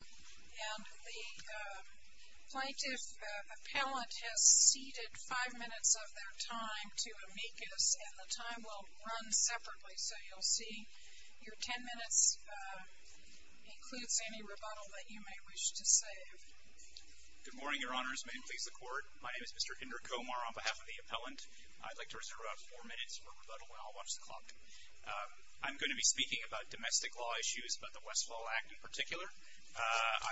and the plaintiff appellant has ceded five minutes of their time to amicus and the time will run separately so you'll see your ten minutes includes any rebuttal that you may wish to save. Good morning your honors may it please the court my name is Mr. Indra Komar on behalf of the appellant I'd like to reserve about four minutes for rebuttal and I'll watch the clock.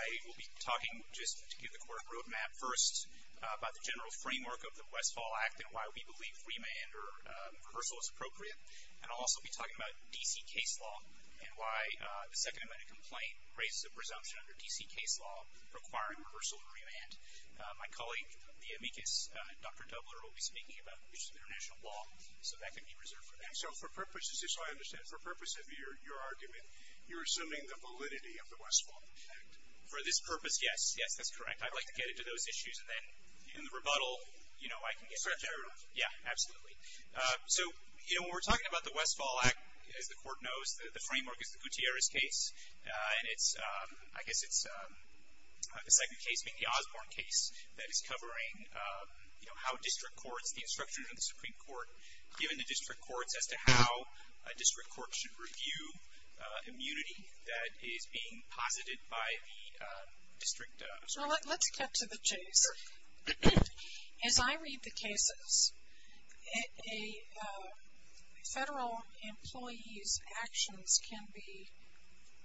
I'm going to be talking just to give the court a roadmap first about the general framework of the Westfall Act and why we believe remand or reversal is appropriate and I'll also be talking about DC case law and why the second amendment complaint raises a presumption under DC case law requiring reversal and remand. My colleague the amicus Dr. Dubler will be speaking about international law so that can be reserved for them. And so for purposes just so I understand for purpose of your argument you're assuming the validity of the Westfall Act? For this purpose yes yes that's correct I'd like to get into those issues and then in the rebuttal you know I can get there yeah absolutely so you know we're talking about the Westfall Act as the court knows the framework is the Gutierrez case and it's I guess it's the second case being the Osborne case that is covering you know how district courts the instructions of the Supreme Court given the district courts as to how a that is being posited by the district. So let's cut to the chase as I read the cases a federal employee's actions can be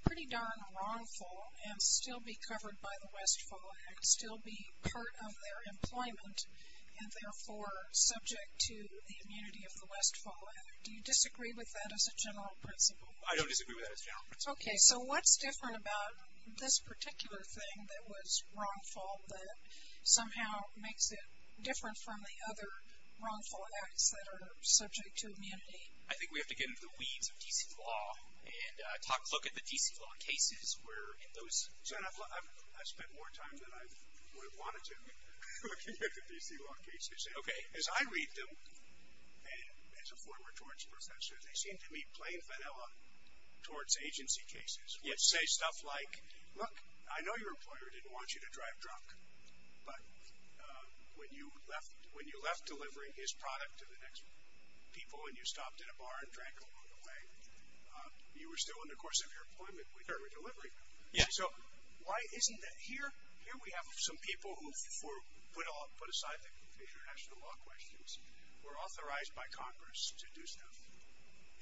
pretty darn wrongful and still be covered by the Westfall Act still be part of their employment and therefore subject to the immunity of the Westfall Act do you disagree with that as a So what's different about this particular thing that was wrongful that somehow makes it different from the other wrongful acts that are subject to immunity? I think we have to get into the weeds of DC law and talk look at the DC law cases where in those. I've spent more time than I would have wanted to looking at the DC law cases. Okay. As I read them and as a former torts professor they seem to say stuff like look I know your employer didn't want you to drive drunk but when you left when you left delivering his product to the next people and you stopped in a bar and drank a little bit away you were still in the course of your appointment with her with delivery. Yeah. So why isn't that here here we have some people who for put aside the international law questions were authorized by Congress to do stuff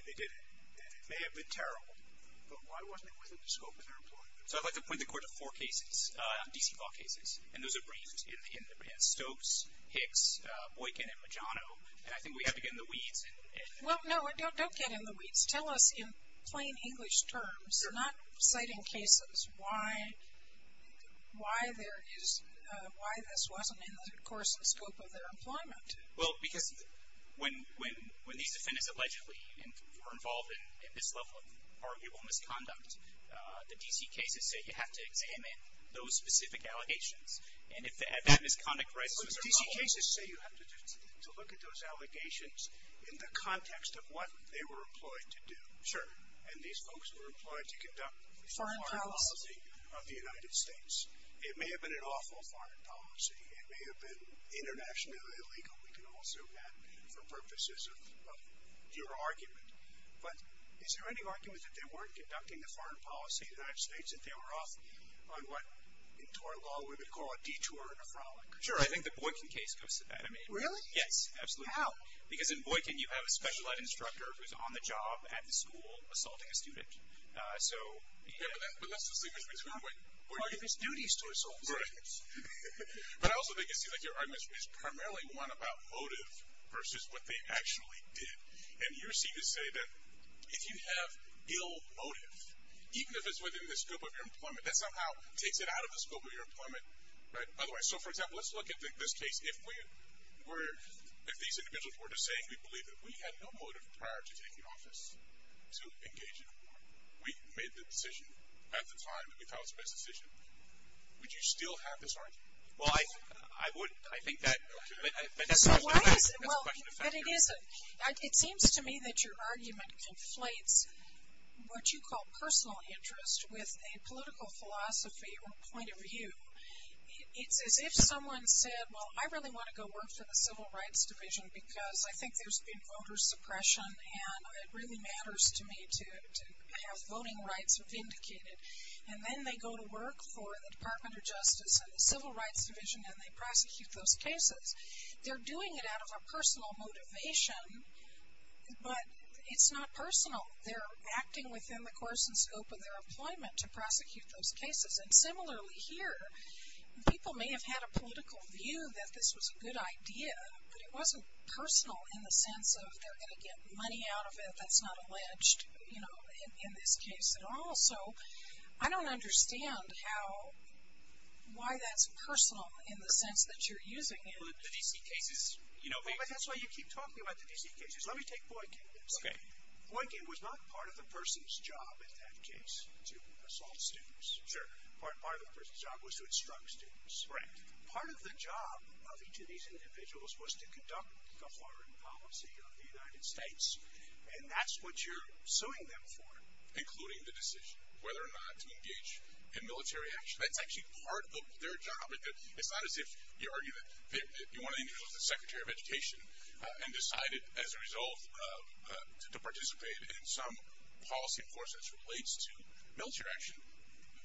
and they did it. It may have been terrible but So I'd like to point the court to four cases DC law cases and those are briefed in Stokes, Hicks, Boykin, and Magiano and I think we have to get in the weeds. Well no don't get in the weeds. Tell us in plain English terms not citing cases why why there is why this wasn't in the course and scope of their employment. Well because when when when these defendants allegedly were involved in this level of arguable misconduct the DC cases say you have to examine those specific allegations and if they have that misconduct. DC cases say you have to look at those allegations in the context of what they were employed to do. Sure. And these folks were employed to conduct foreign policy of the United States. It may have been an awful foreign policy. It may have been Is there any argument that they weren't conducting the foreign policy of the United States that they were off on what in tort law we would call a detour and a frolic? Sure I think the Boykin case goes to that. Really? Yes. Absolutely. How? Because in Boykin you have a special ed instructor who's on the job at the school assaulting a student. So. Yeah but that's the thing. Boykin has duties to assault students. Right. But I also think it seems like your argument is primarily one about motive versus what they actually did. And you seem to say that if you have ill motive even if it's within the scope of your employment that somehow takes it out of the scope of your employment. Right. By the way so for example let's look at this case if we were if these individuals were just saying we believe that we had no motive prior to taking office to engage in a war. We made the decision at the time that we thought was the best decision. Would you still have this argument? Well I would. I think that. But that's a question of fact. But it isn't. It seems to me that your argument conflates what you call personal interest with a political philosophy or point of view. It's as if someone said well I really want to go work for the Civil Rights Division because I think there's been voter suppression and it really matters to me to have voting rights vindicated. And then they go to work for the Department of Justice and the Civil Rights Division and they prosecute those cases. They're doing it out of a personal motivation but it's not personal. They're acting within the course and scope of their employment to prosecute those cases. And similarly here people may have had a political view that this was a good idea but it wasn't personal in the sense of they're going to get money out of it that's not alleged you know in this case at all. So I don't understand how why that's personal in the sense that you're using it. But the D.C. cases you know. That's why you keep talking about the D.C. cases. Let me take Boykin. Okay. Boykin was not part of the person's job in that case to assault students. Sure. Part of the person's job was to instruct students. Correct. Part of the job of each of these individuals was to conduct the foreign policy of the United States and that's what you're suing them for. Including the decision whether or not to engage in military action. That's actually part of their job. It's not as if you argue that one of the individuals was the Secretary of Education and decided as a result to participate in some policy enforcement that relates to military action.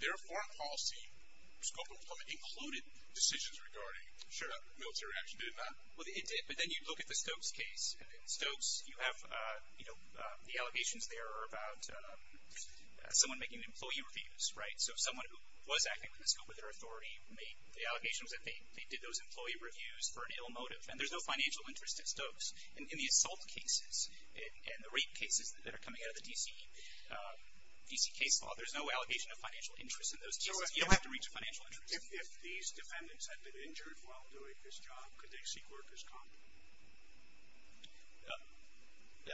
Their foreign policy scope of employment included decisions regarding military action. Did it not? Well it did. But then you look at the Stokes case. In Stokes you have you know the allegations there are about someone making employee reviews. Right. So someone who was acting from the scope of their authority made the allegations that they did those employee reviews for an ill motive. And there's no financial interest at Stokes. In the assault cases and the rape cases that are coming out of the D.C. case law there's no allegation of financial interest in those cases. You don't have to reach a financial interest. If these defendants had been injured while doing this job could they seek workers' comp?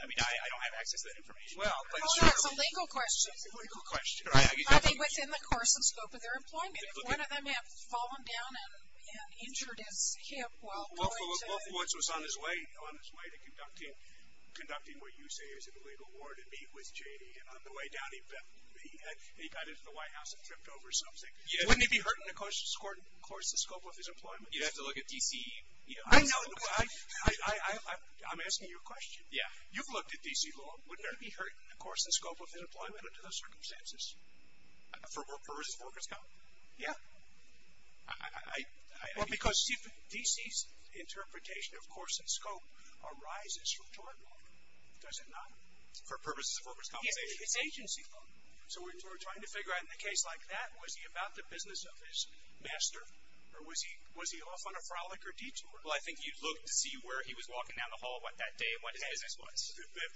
I mean I don't have access to that information. Well. Well that's a legal question. It's a legal question. I mean within the course and scope of their employment. If one of them had fallen down and injured his hip while going to. Well for once he was on his way to conducting what you say is an illegal war to meet with J.D. And on the way down he got into the White House and tripped over something. Wouldn't he be hurting the course and scope of his employment? You'd have to look at D.C. I know. I'm asking you a question. Yeah. You've looked at D.C. law. Wouldn't he be hurting the course and scope of his employment under those circumstances? For workers' comp? Yeah. Because D.C.'s interpretation of course and scope arises from tort law. Does it not? For purposes of workers' compensation? It's agency law. So we're trying to figure out in a case like that was he about the business of his master? Or was he off on a frolic or detour? Well I think you'd look to see where he was walking down the hall that day and what his business was.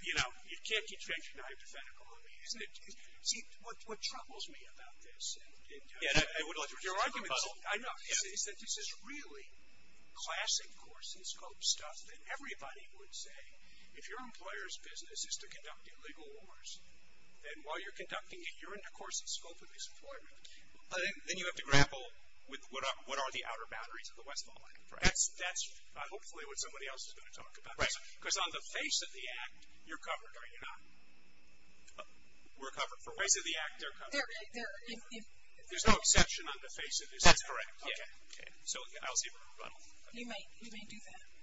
You know you can't keep changing the hypothetical. I mean isn't it. See what troubles me about this. And I would like your argument. I know. Is that this is really classic course and scope stuff that everybody would say if your employer's business is to conduct illegal wars and while you're conducting it you're in the course and scope of his employment. Then you have to grapple with what are the outer boundaries of the Westphal Act. That's hopefully what somebody else is going to talk about. Right. Because on the face of the act you're covered, are you not? We're covered. For ways of the act they're covered. There's no exception on the face of this. That's correct. Okay. So I'll see if I can run off. You might. You might do that. Okay.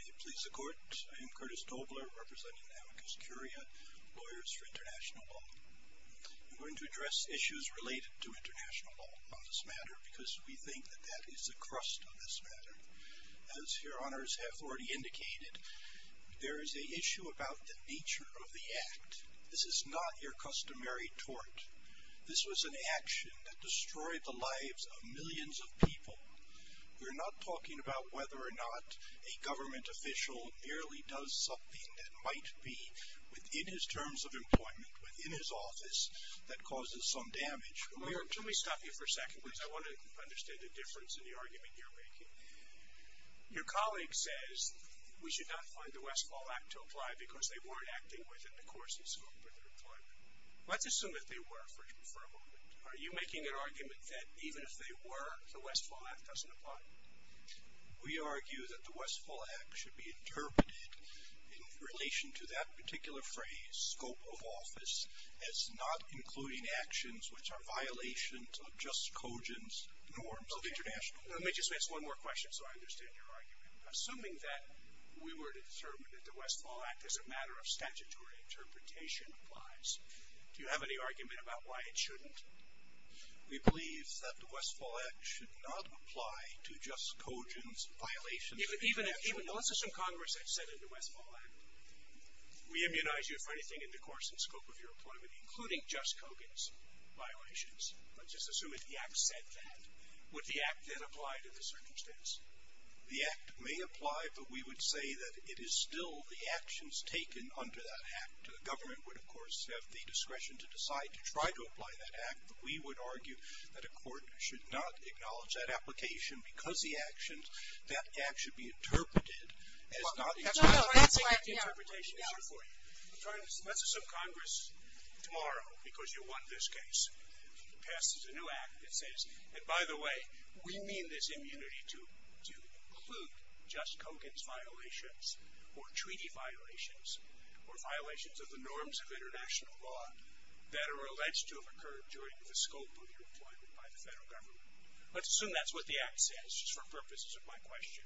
May it please the court. I am Curtis Tobler representing Amicus Curia, lawyers for international law. I'm going to address issues related to international law on this matter because we think that that is the crust of this matter. As your honors have already indicated, there is an issue about the nature of the act. This is not your customary tort. This was an action that destroyed the lives of millions of people. We're not talking about whether or not a government official merely does something that might be within his terms of employment, within his office, that causes some damage. Let me stop you for a second because I want to understand the difference in the argument you're making. Your colleague says we should not find the Westfall Act to apply because they weren't acting within the course and scope of their employment. Let's assume that they were for a moment. Are you making an argument that even if they were, the Westfall Act doesn't apply? We argue that the Westfall Act should be interpreted in relation to that particular phrase, scope of office, as not including actions which are violations of just cogent norms of international law. Let me just ask one more question so I understand your argument. Assuming that we were to determine that the Westfall Act as a matter of statutory interpretation applies, do you have any argument about why it shouldn't? We believe that the Westfall Act should not apply to just cogent violations of international law. Let's assume Congress had said in the Westfall Act, we immunize you for anything in the course and scope of your employment, including just cogent violations. Let's just assume that the act said that. Would the act then apply to the circumstance? The act may apply, but we would say that it is still the actions taken under that act. The government would, of course, have the discretion to decide to try to apply that act. But we would argue that a court should not acknowledge that application because the actions that act should be interpreted as not. No, no, that's right. Let me get the interpretation here for you. Let's assume Congress tomorrow, because you won this case, passes a new act that says, and by the way, we mean this immunity to include just cogent violations or treaty violations or violations of the norms of international law that are alleged to have occurred during the scope of your employment by the federal government. Let's assume that's what the act says, just for purposes of my question.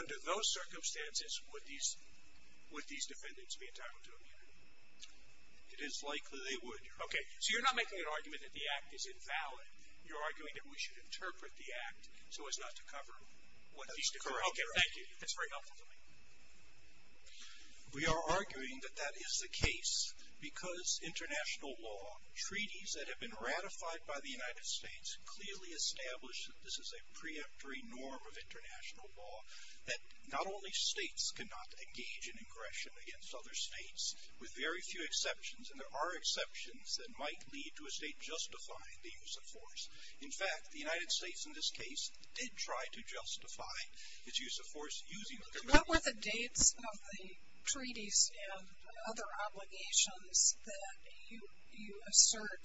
Under those circumstances, would these defendants be entitled to immunity? It is likely they would. Okay, so you're not making an argument that the act is invalid. You're arguing that we should interpret the act so as not to cover what these different countries are doing. That's very helpful to me. We are arguing that that is the case because international law treaties that have been ratified by the United States clearly establish that this is a preemptory norm of international law, that not only states cannot engage in aggression against other states with very few exceptions, and there are exceptions that might lead to a state justifying the use of force. In fact, the United States, in this case, did try to justify its use of force using the convention. What were the dates of the treaties and other obligations that you assert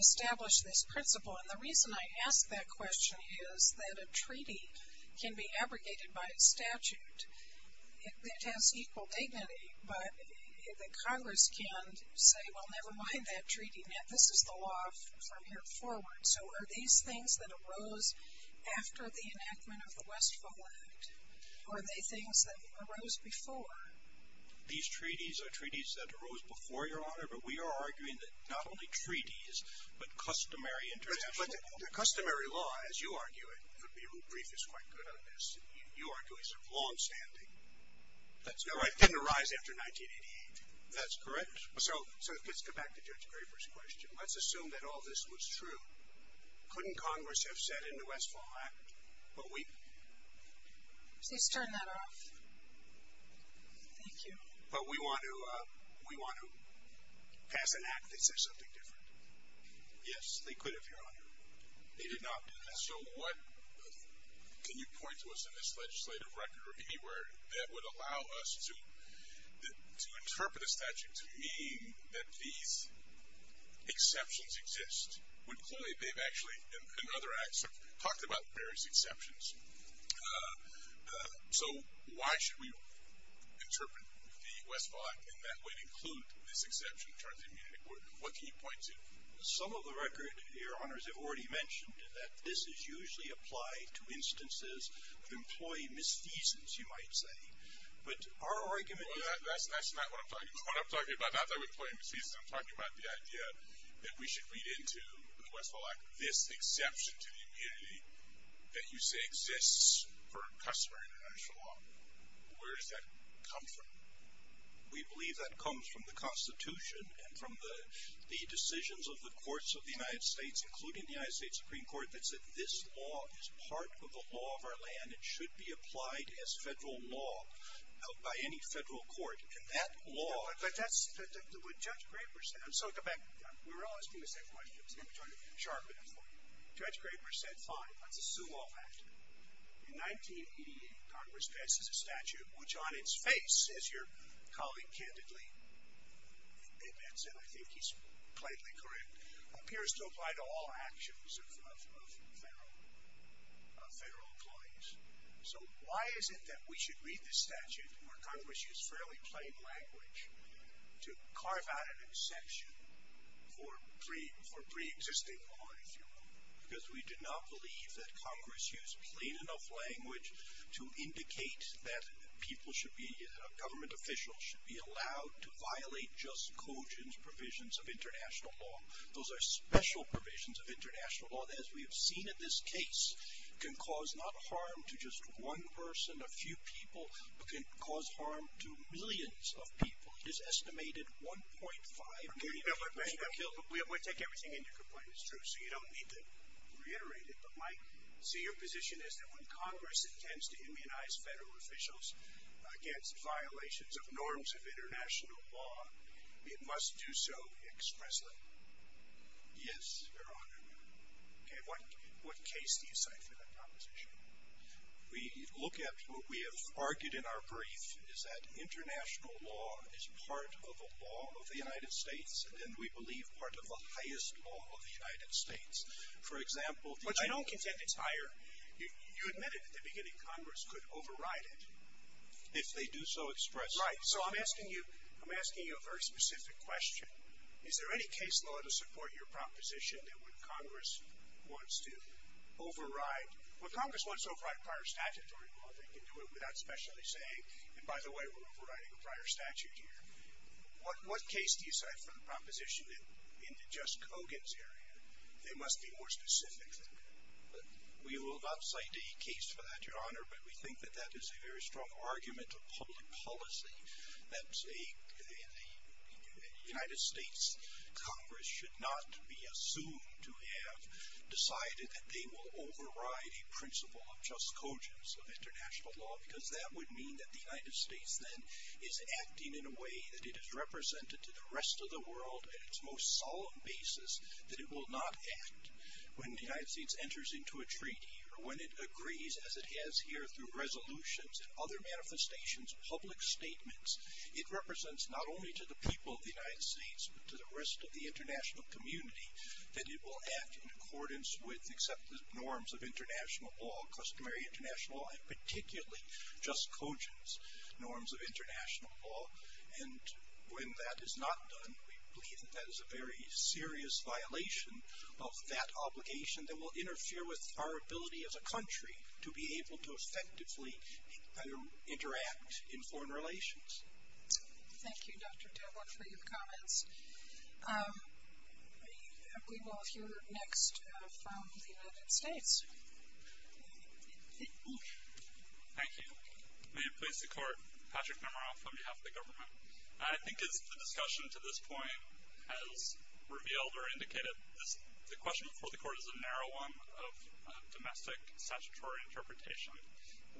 established this principle? And the reason I ask that question is that a treaty can be abrogated by statute. It has equal dignity, but the Congress can say, well, never mind that treaty. This is the law from here forward. So are these things that arose after the enactment of the Westphal Act, or are they things that arose before? These treaties are treaties that arose before, Your Honor, but we are arguing that not only treaties, but customary international law. But the customary law, as you argue it, would be real brief, is quite good on this. You argue it's longstanding. That's right. Didn't arise after 1988. That's correct. So let's go back to Judge Graber's question. Let's assume that all this was true. Couldn't Congress have said in the Westphal Act, but we... Please turn that off. Thank you. But we want to pass an act that says something different. Yes, they could have, Your Honor. They did not. So what can you point to us in this legislative record or anywhere that would allow us to interpret a statute to mean that these exceptions exist? With Cloyd, they've actually, in other acts, talked about various exceptions. So why should we interpret the Westphal Act in that way to include this exception in terms of immunity? What can you point to? Some of the record, Your Honor, as I've already mentioned, that this is usually applied to instances of employee misfeasance, you might say. But our argument is... That's not what I'm talking about. Not that we employ misfeasance. I'm talking about the idea that we should read into the Westphal Act this exception to the immunity that you say exists per customary international law. Where does that come from? We believe that comes from the Constitution and from the decisions of the courts of the United States, including the United States Supreme Court, that said this law is part of the law of our land. It should be applied as federal law held by any federal court. And that law... But that's what Judge Graber said. I'm sorry, go back. We were asking the same question. I was going to try to sharpen it for you. Judge Graber said, fine, let's assume all that. In 1988, Congress passes a statute which, on its face, as your colleague candidly admits, and I think he's plainly correct, appears to apply to all actions of federal employees. So why is it that we should read this statute where Congress used fairly plain language to carve out an exception for pre-existing law, if you will? Because we do not believe that Congress used plain enough language to indicate that people should be... Government officials should be allowed to violate just cogent provisions of international law. Those are special provisions of international law that, as we have seen in this case, can cause not harm to just one person, a few people, but can cause harm to millions of people. It's estimated 1.5 million people should be killed. We take everything in your complaint. It's true. So you don't need to reiterate it. But my... So your position is that when Congress intends to immunize federal officials against violations of norms of international law, it must do so expressly? Yes, Your Honor. Okay. What case do you cite for that proposition? We look at what we have argued in our brief, is that international law is part of the law of the United States, and we believe part of the highest law of the United States. For example... But you don't contend it's higher. You admitted at the beginning Congress could override it if they do so expressly. Right. So I'm asking you... I'm asking you a very specific question. Is there any case law to support your proposition that when Congress wants to override... Well, Congress wants to override prior statutory law. They can do it without specially saying, and by the way, we're overriding a prior statute here. What case do you cite for the proposition that in the Jess Cogan's area, they must be more specific than that? We will not cite a case for that, Your Honor, but we think that that is a very strong argument of public policy that the United States Congress should not be assumed to have decided that they will override a principle of Jess Cogan's of international law, because that would mean that the United States then is acting in a way that it is represented to the rest of the world at its most solemn basis, that it will not act when the United States enters into a treaty or when it agrees, as it has here through resolutions and other manifestations, public statements. It represents not only to the people of the United States, but to the rest of the international community, that it will act in accordance with accepted norms of international law, customary international law, and particularly Jess Cogan's norms of international law. And when that is not done, we believe that that is a very serious violation of that obligation that will interfere with our ability as a country to be able to effectively interact in foreign relations. Thank you, Dr. Devlin, for your comments. We will hear next from the United States. Thank you. May it please the Court, Patrick Nomaroff on behalf of the government. I think as the discussion to this point has revealed or indicated, the question before the Court is a narrow one of domestic statutory interpretation.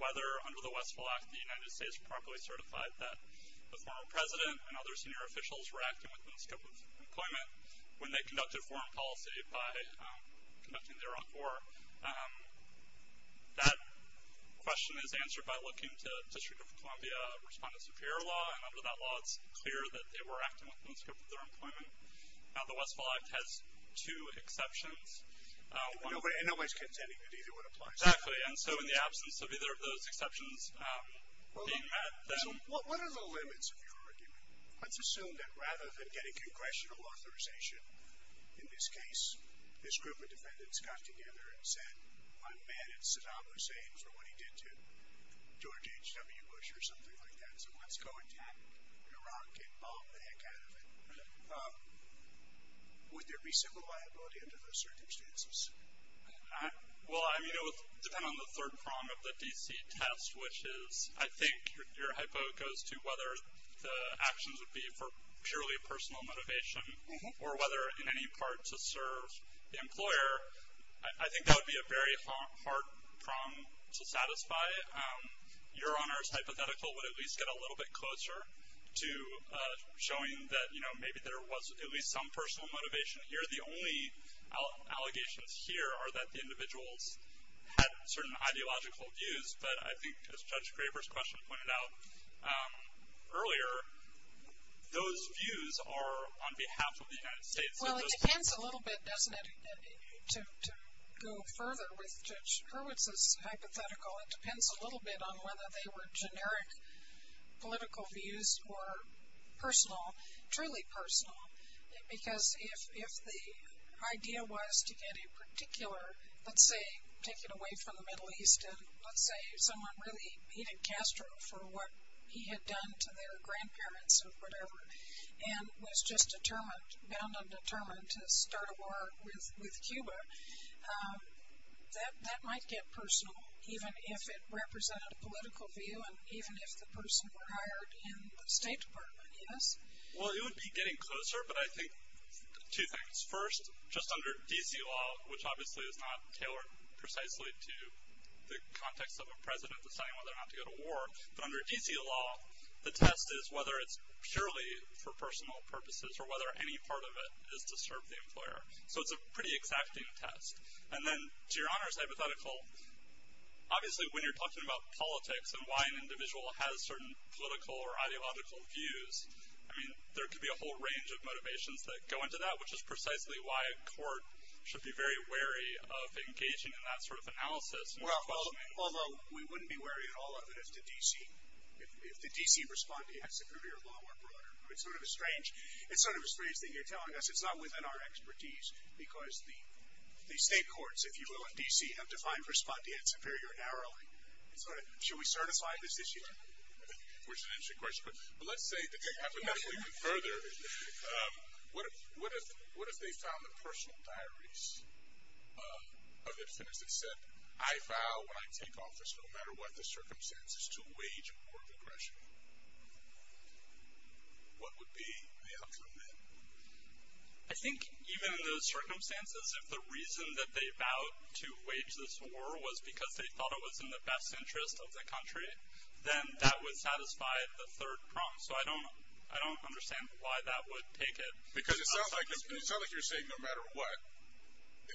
Whether, under the Westphal Act, the United States properly certified that the former president and other senior officials were acting within the scope of employment when they conducted foreign policy by conducting their own war, that question is answered by looking to District of Columbia Respondent Superior Law. And under that law, it's clear that they were acting within the scope of their employment. The Westphal Act has two exceptions. And nobody's contending that either one applies. Exactly. And so in the absence of either of those exceptions being met, then- What are the limits of your argument? Let's assume that rather than getting congressional authorization, in this case, this group of defendants got together and said, I'm mad at Saddam Hussein for what he did to George H.W. Bush or something like that, so let's go attack Iraq and bomb the heck out of it. Would there be civil liability under those circumstances? Well, I mean, it would depend on the third prong of the DC test, which is, I think your hypo goes to whether the actions would be for purely personal motivation or whether in any part to serve the employer. I think that would be a very hard prong to satisfy. Your Honor's hypothetical would at least get a little bit closer to showing that maybe there was at least some personal motivation here. The only allegations here are that the individuals had certain ideological views, but I think as Judge Graber's question pointed out earlier, those views are on behalf of the United States. Well, it depends a little bit, doesn't it, to go further with Judge Hurwitz's hypothetical. It depends a little bit on whether they were generic political views or personal, truly personal, because if the idea was to get a particular, let's say, take it away from the Middle East and let's say someone really hated Castro for what he had done to their grandparents or whatever and was just determined, bound and determined, to start a war with Cuba, that might get personal, even if it represented a political view and even if the person were hired in the State Department, yes? Well, it would be getting closer, but I think two things. First, just under D.C. law, which obviously is not tailored precisely to the context of a president deciding whether or not to go to war, but under D.C. law, the test is whether it's purely for personal purposes or whether any part of it is to serve the employer. So it's a pretty exacting test. And then to Your Honor's hypothetical, obviously when you're talking about politics and why an individual has certain political or ideological views, I mean, there could be a whole range of motivations that go into that, which is precisely why a court should be very wary of engaging in that sort of analysis. Well, although we wouldn't be wary at all of it if the D.C. respondeat had superior law or broader. It's sort of a strange thing you're telling us. It's not within our expertise, because the state courts, if you will, in D.C. have defined respondeat superior narrowly. So should we certify this issue? Which is an interesting question. But let's say the thing happens even further. What if they found the personal diaries of defendants that said, I vow when I take office, no matter what the circumstances, to wage a war of aggression? What would be the outcome then? I think even in those circumstances, if the reason that they vowed to wage this war was because they thought it was in the best interest of the country, then that would satisfy the third prompt. So I don't understand why that would take it. Because it sounds like you're saying no matter what,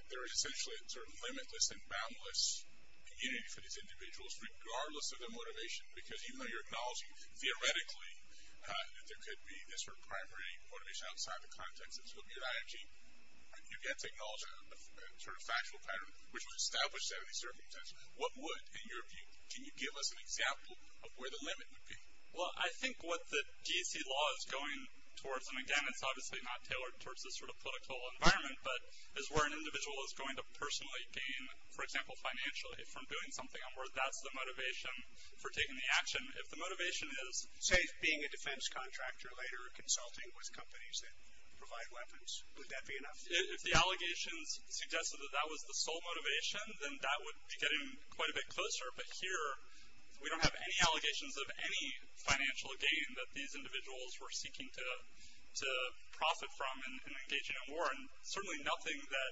there is essentially a sort of limitless and boundless community for these individuals, regardless of their motivation, because even though you're acknowledging theoretically that there could be this sort of primary motivation outside the context of superior ideology, you get to acknowledge a sort of factual pattern, which was established out of these circumstances. What would, in your view, can you give us an example of where the limit would be? Well, I think what the D.C. law is going towards, and again, it's obviously not tailored towards this sort of political environment, but is where an individual is going to personally gain, for example, financial aid from doing something, and where that's the motivation for taking the action. If the motivation is, say, being a defense contractor, later consulting with companies that provide weapons, would that be enough? If the allegations suggested that that was the sole motivation, then that would be getting quite a bit closer. But here, we don't have any allegations of any financial gain that these individuals were seeking to profit from in engaging in war, and certainly nothing that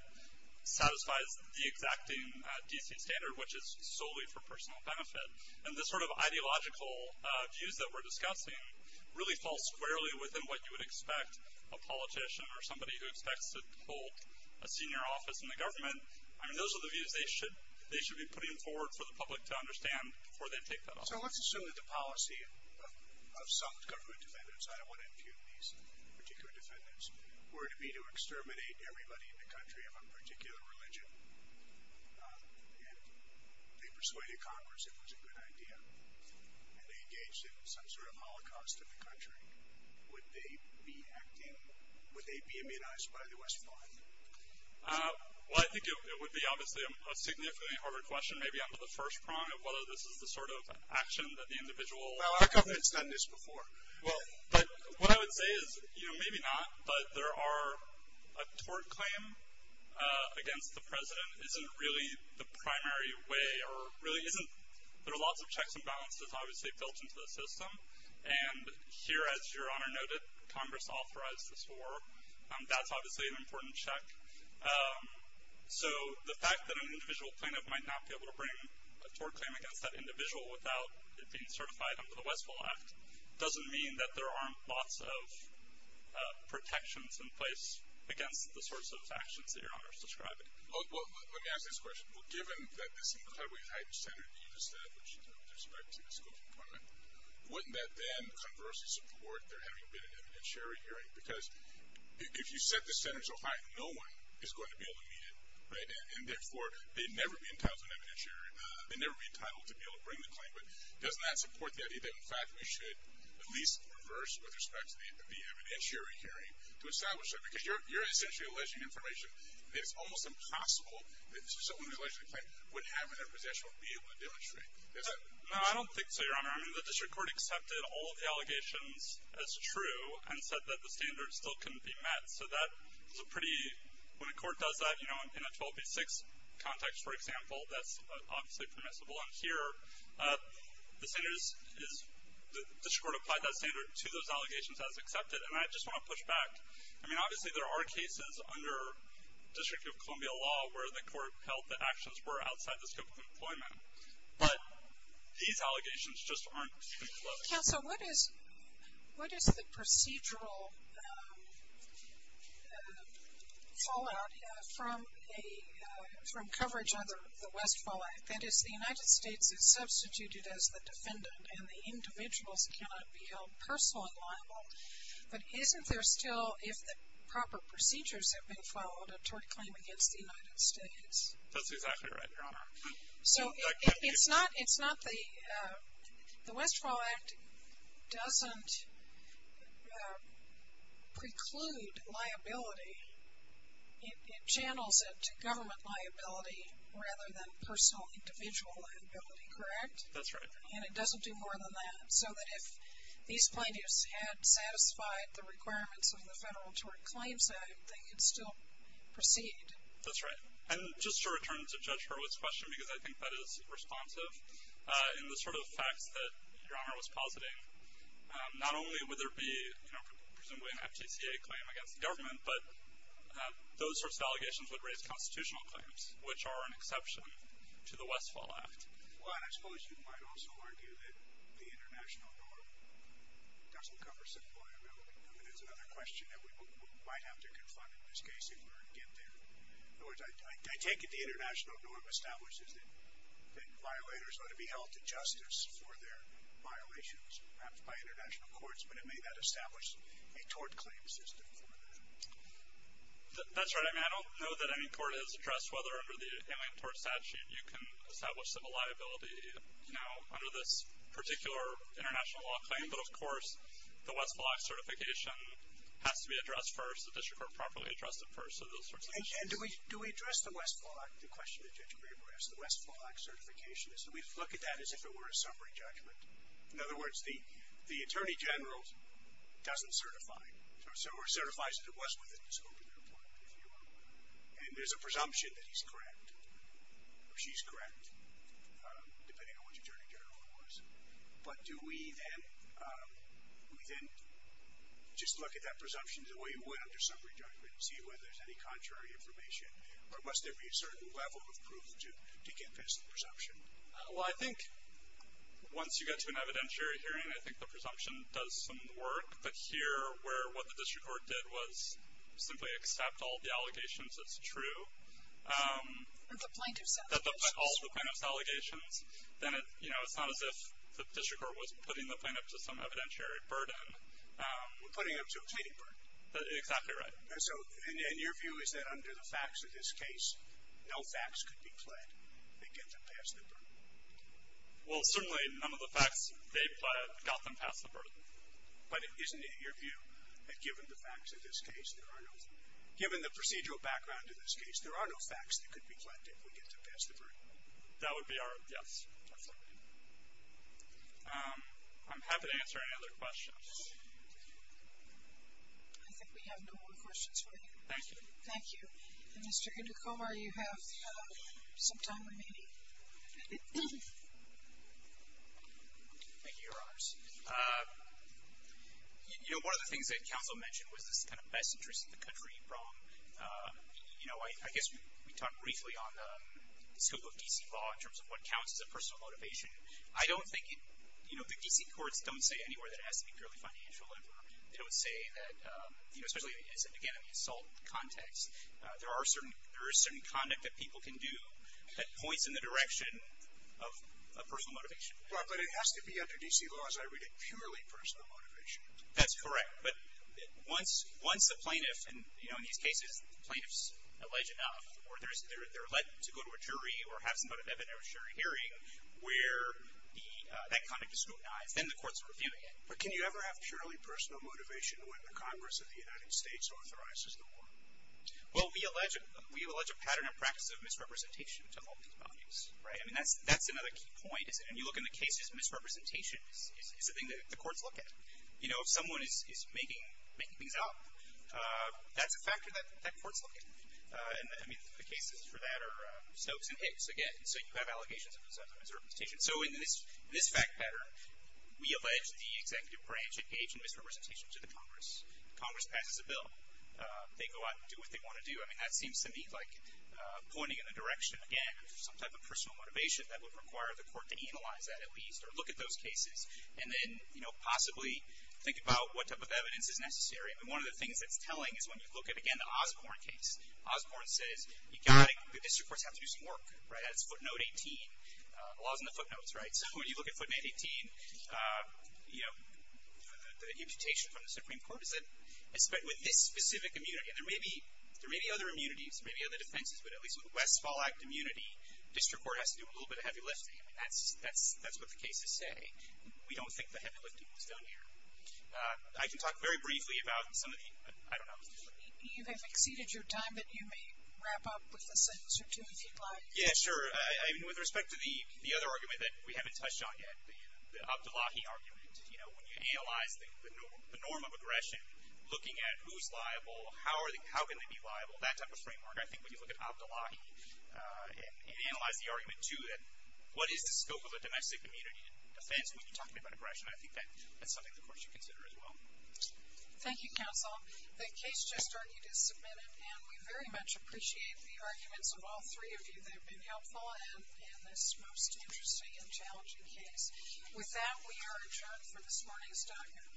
satisfies the exacting D.C. standard, which is solely for personal benefit. And this sort of ideological views that we're discussing really fall squarely within what you would expect a politician or somebody who expects to hold a senior office in the government. I mean, those are the views they should be putting forward for the public to understand before they take that office. So let's assume that the policy of some government defendants, and I don't want to impugn these particular defendants, were to be to exterminate everybody in the country of a particular religion, and they persuaded Congress it was a good idea, and they engaged in some sort of holocaust in the country. Would they be acting, would they be immunized by the West Wing? Well, I think it would be obviously a significantly harder question, maybe under the first prong, of whether this is the sort of action that the individual... Well, our government's done this before. Well, but what I would say is, you know, maybe not, but there are, a tort claim against the president isn't really the primary way, or really isn't, there are lots of checks and balances obviously built into the system. And here, as Your Honor noted, Congress authorized this war. That's obviously an important check. So the fact that an individual plaintiff might not be able to bring a tort claim against that individual without it being certified under the Westfall Act doesn't mean that there aren't lots of protections in place against the sorts of actions that Your Honor is describing. Well, let me ask this question. Well, given that this incredibly high standard that you've established with respect to this employment, wouldn't that then conversely support there having been an evidentiary hearing? Because if you set the standards so high, no one is going to be able to meet it, right? And therefore, they'd never be entitled to an evidentiary. They'd never be entitled to be able to bring the claim. But doesn't that support the idea that, in fact, we should at least reverse with respect to the evidentiary hearing to establish that? Because you're essentially alleging information, and it's almost impossible that someone who's allegedly claimed wouldn't have any protection or be able to demonstrate. No, I don't think so, Your Honor. I mean, the district court accepted all of the allegations as true and said that the standards still couldn't be met. So that is a pretty, when a court does that, you know, in a 12B6 context, for example, that's obviously permissible. And here, the district court applied that standard to those allegations as accepted. And I just want to push back. I mean, obviously, there are cases under District of Columbia law where the court held that actions were outside the scope of employment. But these allegations just aren't included. Counsel, what is the procedural fallout from a, from coverage under the Westfall Act? That is, the United States is substituted as the defendant, and the individuals cannot be held personal and liable. But isn't there still, if the proper procedures have been followed, a tort claim against the United States? That's exactly right, Your Honor. So it's not, it's not the, the Westfall Act doesn't preclude liability. It channels it to government liability rather than personal individual liability, correct? That's right. And it doesn't do more than that. So that if these plaintiffs had satisfied the requirements of the Federal Tort Claims Act, they could still proceed. That's right. And just to return to Judge Hurwitz's question, because I think that is responsive, in the sort of facts that Your Honor was positing, not only would there be, you know, presumably an FTCA claim against the government, but those sorts of allegations would raise constitutional claims, which are an exception to the Westfall Act. Well, and I suppose you might also argue that the international norm doesn't cover civil liability. I mean, it's another question that we might have to confront in this case if we're to get there. In other words, I take it the international norm establishes that violators ought to be held to justice for their violations, perhaps by international courts. But it may not establish a tort claim system for that. That's right. I mean, I don't know that any court has addressed whether under the Alien Tort Statute, you can establish civil liability, you know, under this particular international law claim. But of course, the Westfall Act certification has to be addressed first, the District Court properly addressed it first. And do we address the Westfall Act, the question that Judge Graber asked, the Westfall Act certification, is that we look at that as if it were a summary judgment? In other words, the Attorney General doesn't certify, or certifies that it was within his open employment, if you will. And there's a presumption that he's correct, or she's correct, depending on which Attorney General it was. But do we then, we then just look at that presumption the way we would under summary judgment to see whether there's any contrary information? Or must there be a certain level of proof to get past the presumption? Well, I think once you get to an evidentiary hearing, I think the presumption does some work. But here, where what the District Court did was simply accept all the allegations as true. And the plaintiff's allegations. All the plaintiff's allegations. Then, you know, it's not as if the District Court was putting the plaintiff to some evidentiary burden. We're putting them to a petty burden. Exactly right. And your view is that under the facts of this case, no facts could be pled that get them past the burden? Well, certainly none of the facts they pled got them past the burden. But isn't it your view that given the facts of this case, there are no, given the procedural background of this case, there are no facts that could be pled that would get them past the burden? That would be our, yes. I'm happy to answer any other questions. I think we have no more questions for you. Thank you. Thank you. And Mr. Hindicombe, you have some time remaining. Thank you, Your Honors. You know, one of the things that counsel mentioned was this kind of best interest of the country problem. You know, I guess we talked briefly on the scope of D.C. law in terms of what counts as a personal motivation. I don't think it, you know, the D.C. courts don't say anywhere that it has to be girly financial labor. They would say that, you know, especially, again, in the assault context, there are certain, there is certain conduct that people can do that points in the direction of a personal motivation. Right. But it has to be under D.C. law, as I read it, purely personal motivation. That's correct. But once the plaintiff, and you know, in these cases, the plaintiff's alleged enough, or they're let to go to a jury or have some kind of evidentiary hearing where that conduct is scrutinized, then the courts are reviewing it. But can you ever have purely personal motivation when the Congress of the United States authorizes the war? Well, we allege a pattern and practice of misrepresentation to all these values. Right. I mean, that's another key point, isn't it? And you look in the cases, misrepresentation is the thing that the courts look at. You know, if someone is making things up, that's a factor that courts look at. And I mean, the cases for that are Snopes and Hicks, again. So you have allegations of misrepresentation. So in this fact pattern, we allege the executive branch engaged in misrepresentation to the Congress. Congress passes a bill. They go out and do what they want to do. I mean, that seems to me like pointing in the direction, again, of some type of personal motivation that would require the court to analyze that, at least, or look at those cases. And then, you know, possibly think about what type of evidence is necessary. I mean, one of the things that's telling is when you look at, again, the Osborne case. Osborne says, you've got to, the district courts have to do some work. Right. That's footnote 18. The law is in the footnotes. Right. So when you look at footnote 18, you know, the imputation from the Supreme Court is that with this specific immunity, and there may be other immunities, maybe other defenses, but at least with Westfall Act immunity, district court has to do a little bit of heavy lifting. I mean, that's what the cases say. We don't think the heavy lifting was done here. I can talk very briefly about some of the, I don't know. You have exceeded your time, but you may wrap up with a sentence or two, if you'd like. Yeah, sure. With respect to the other argument that we haven't touched on yet, the Abdullahi argument, you know, when you analyze the norm of aggression, looking at who's liable, how are they, how can they be liable, that type of framework. I think when you look at Abdullahi and analyze the argument, too, that what is the scope of the domestic immunity defense when you're talking about aggression, I think that's something the court should consider as well. Thank you, counsel. The case just argued is submitted, and we very much appreciate the arguments of all three of you that have been helpful in this most interesting and challenging case. With that, we are adjourned for this morning's document.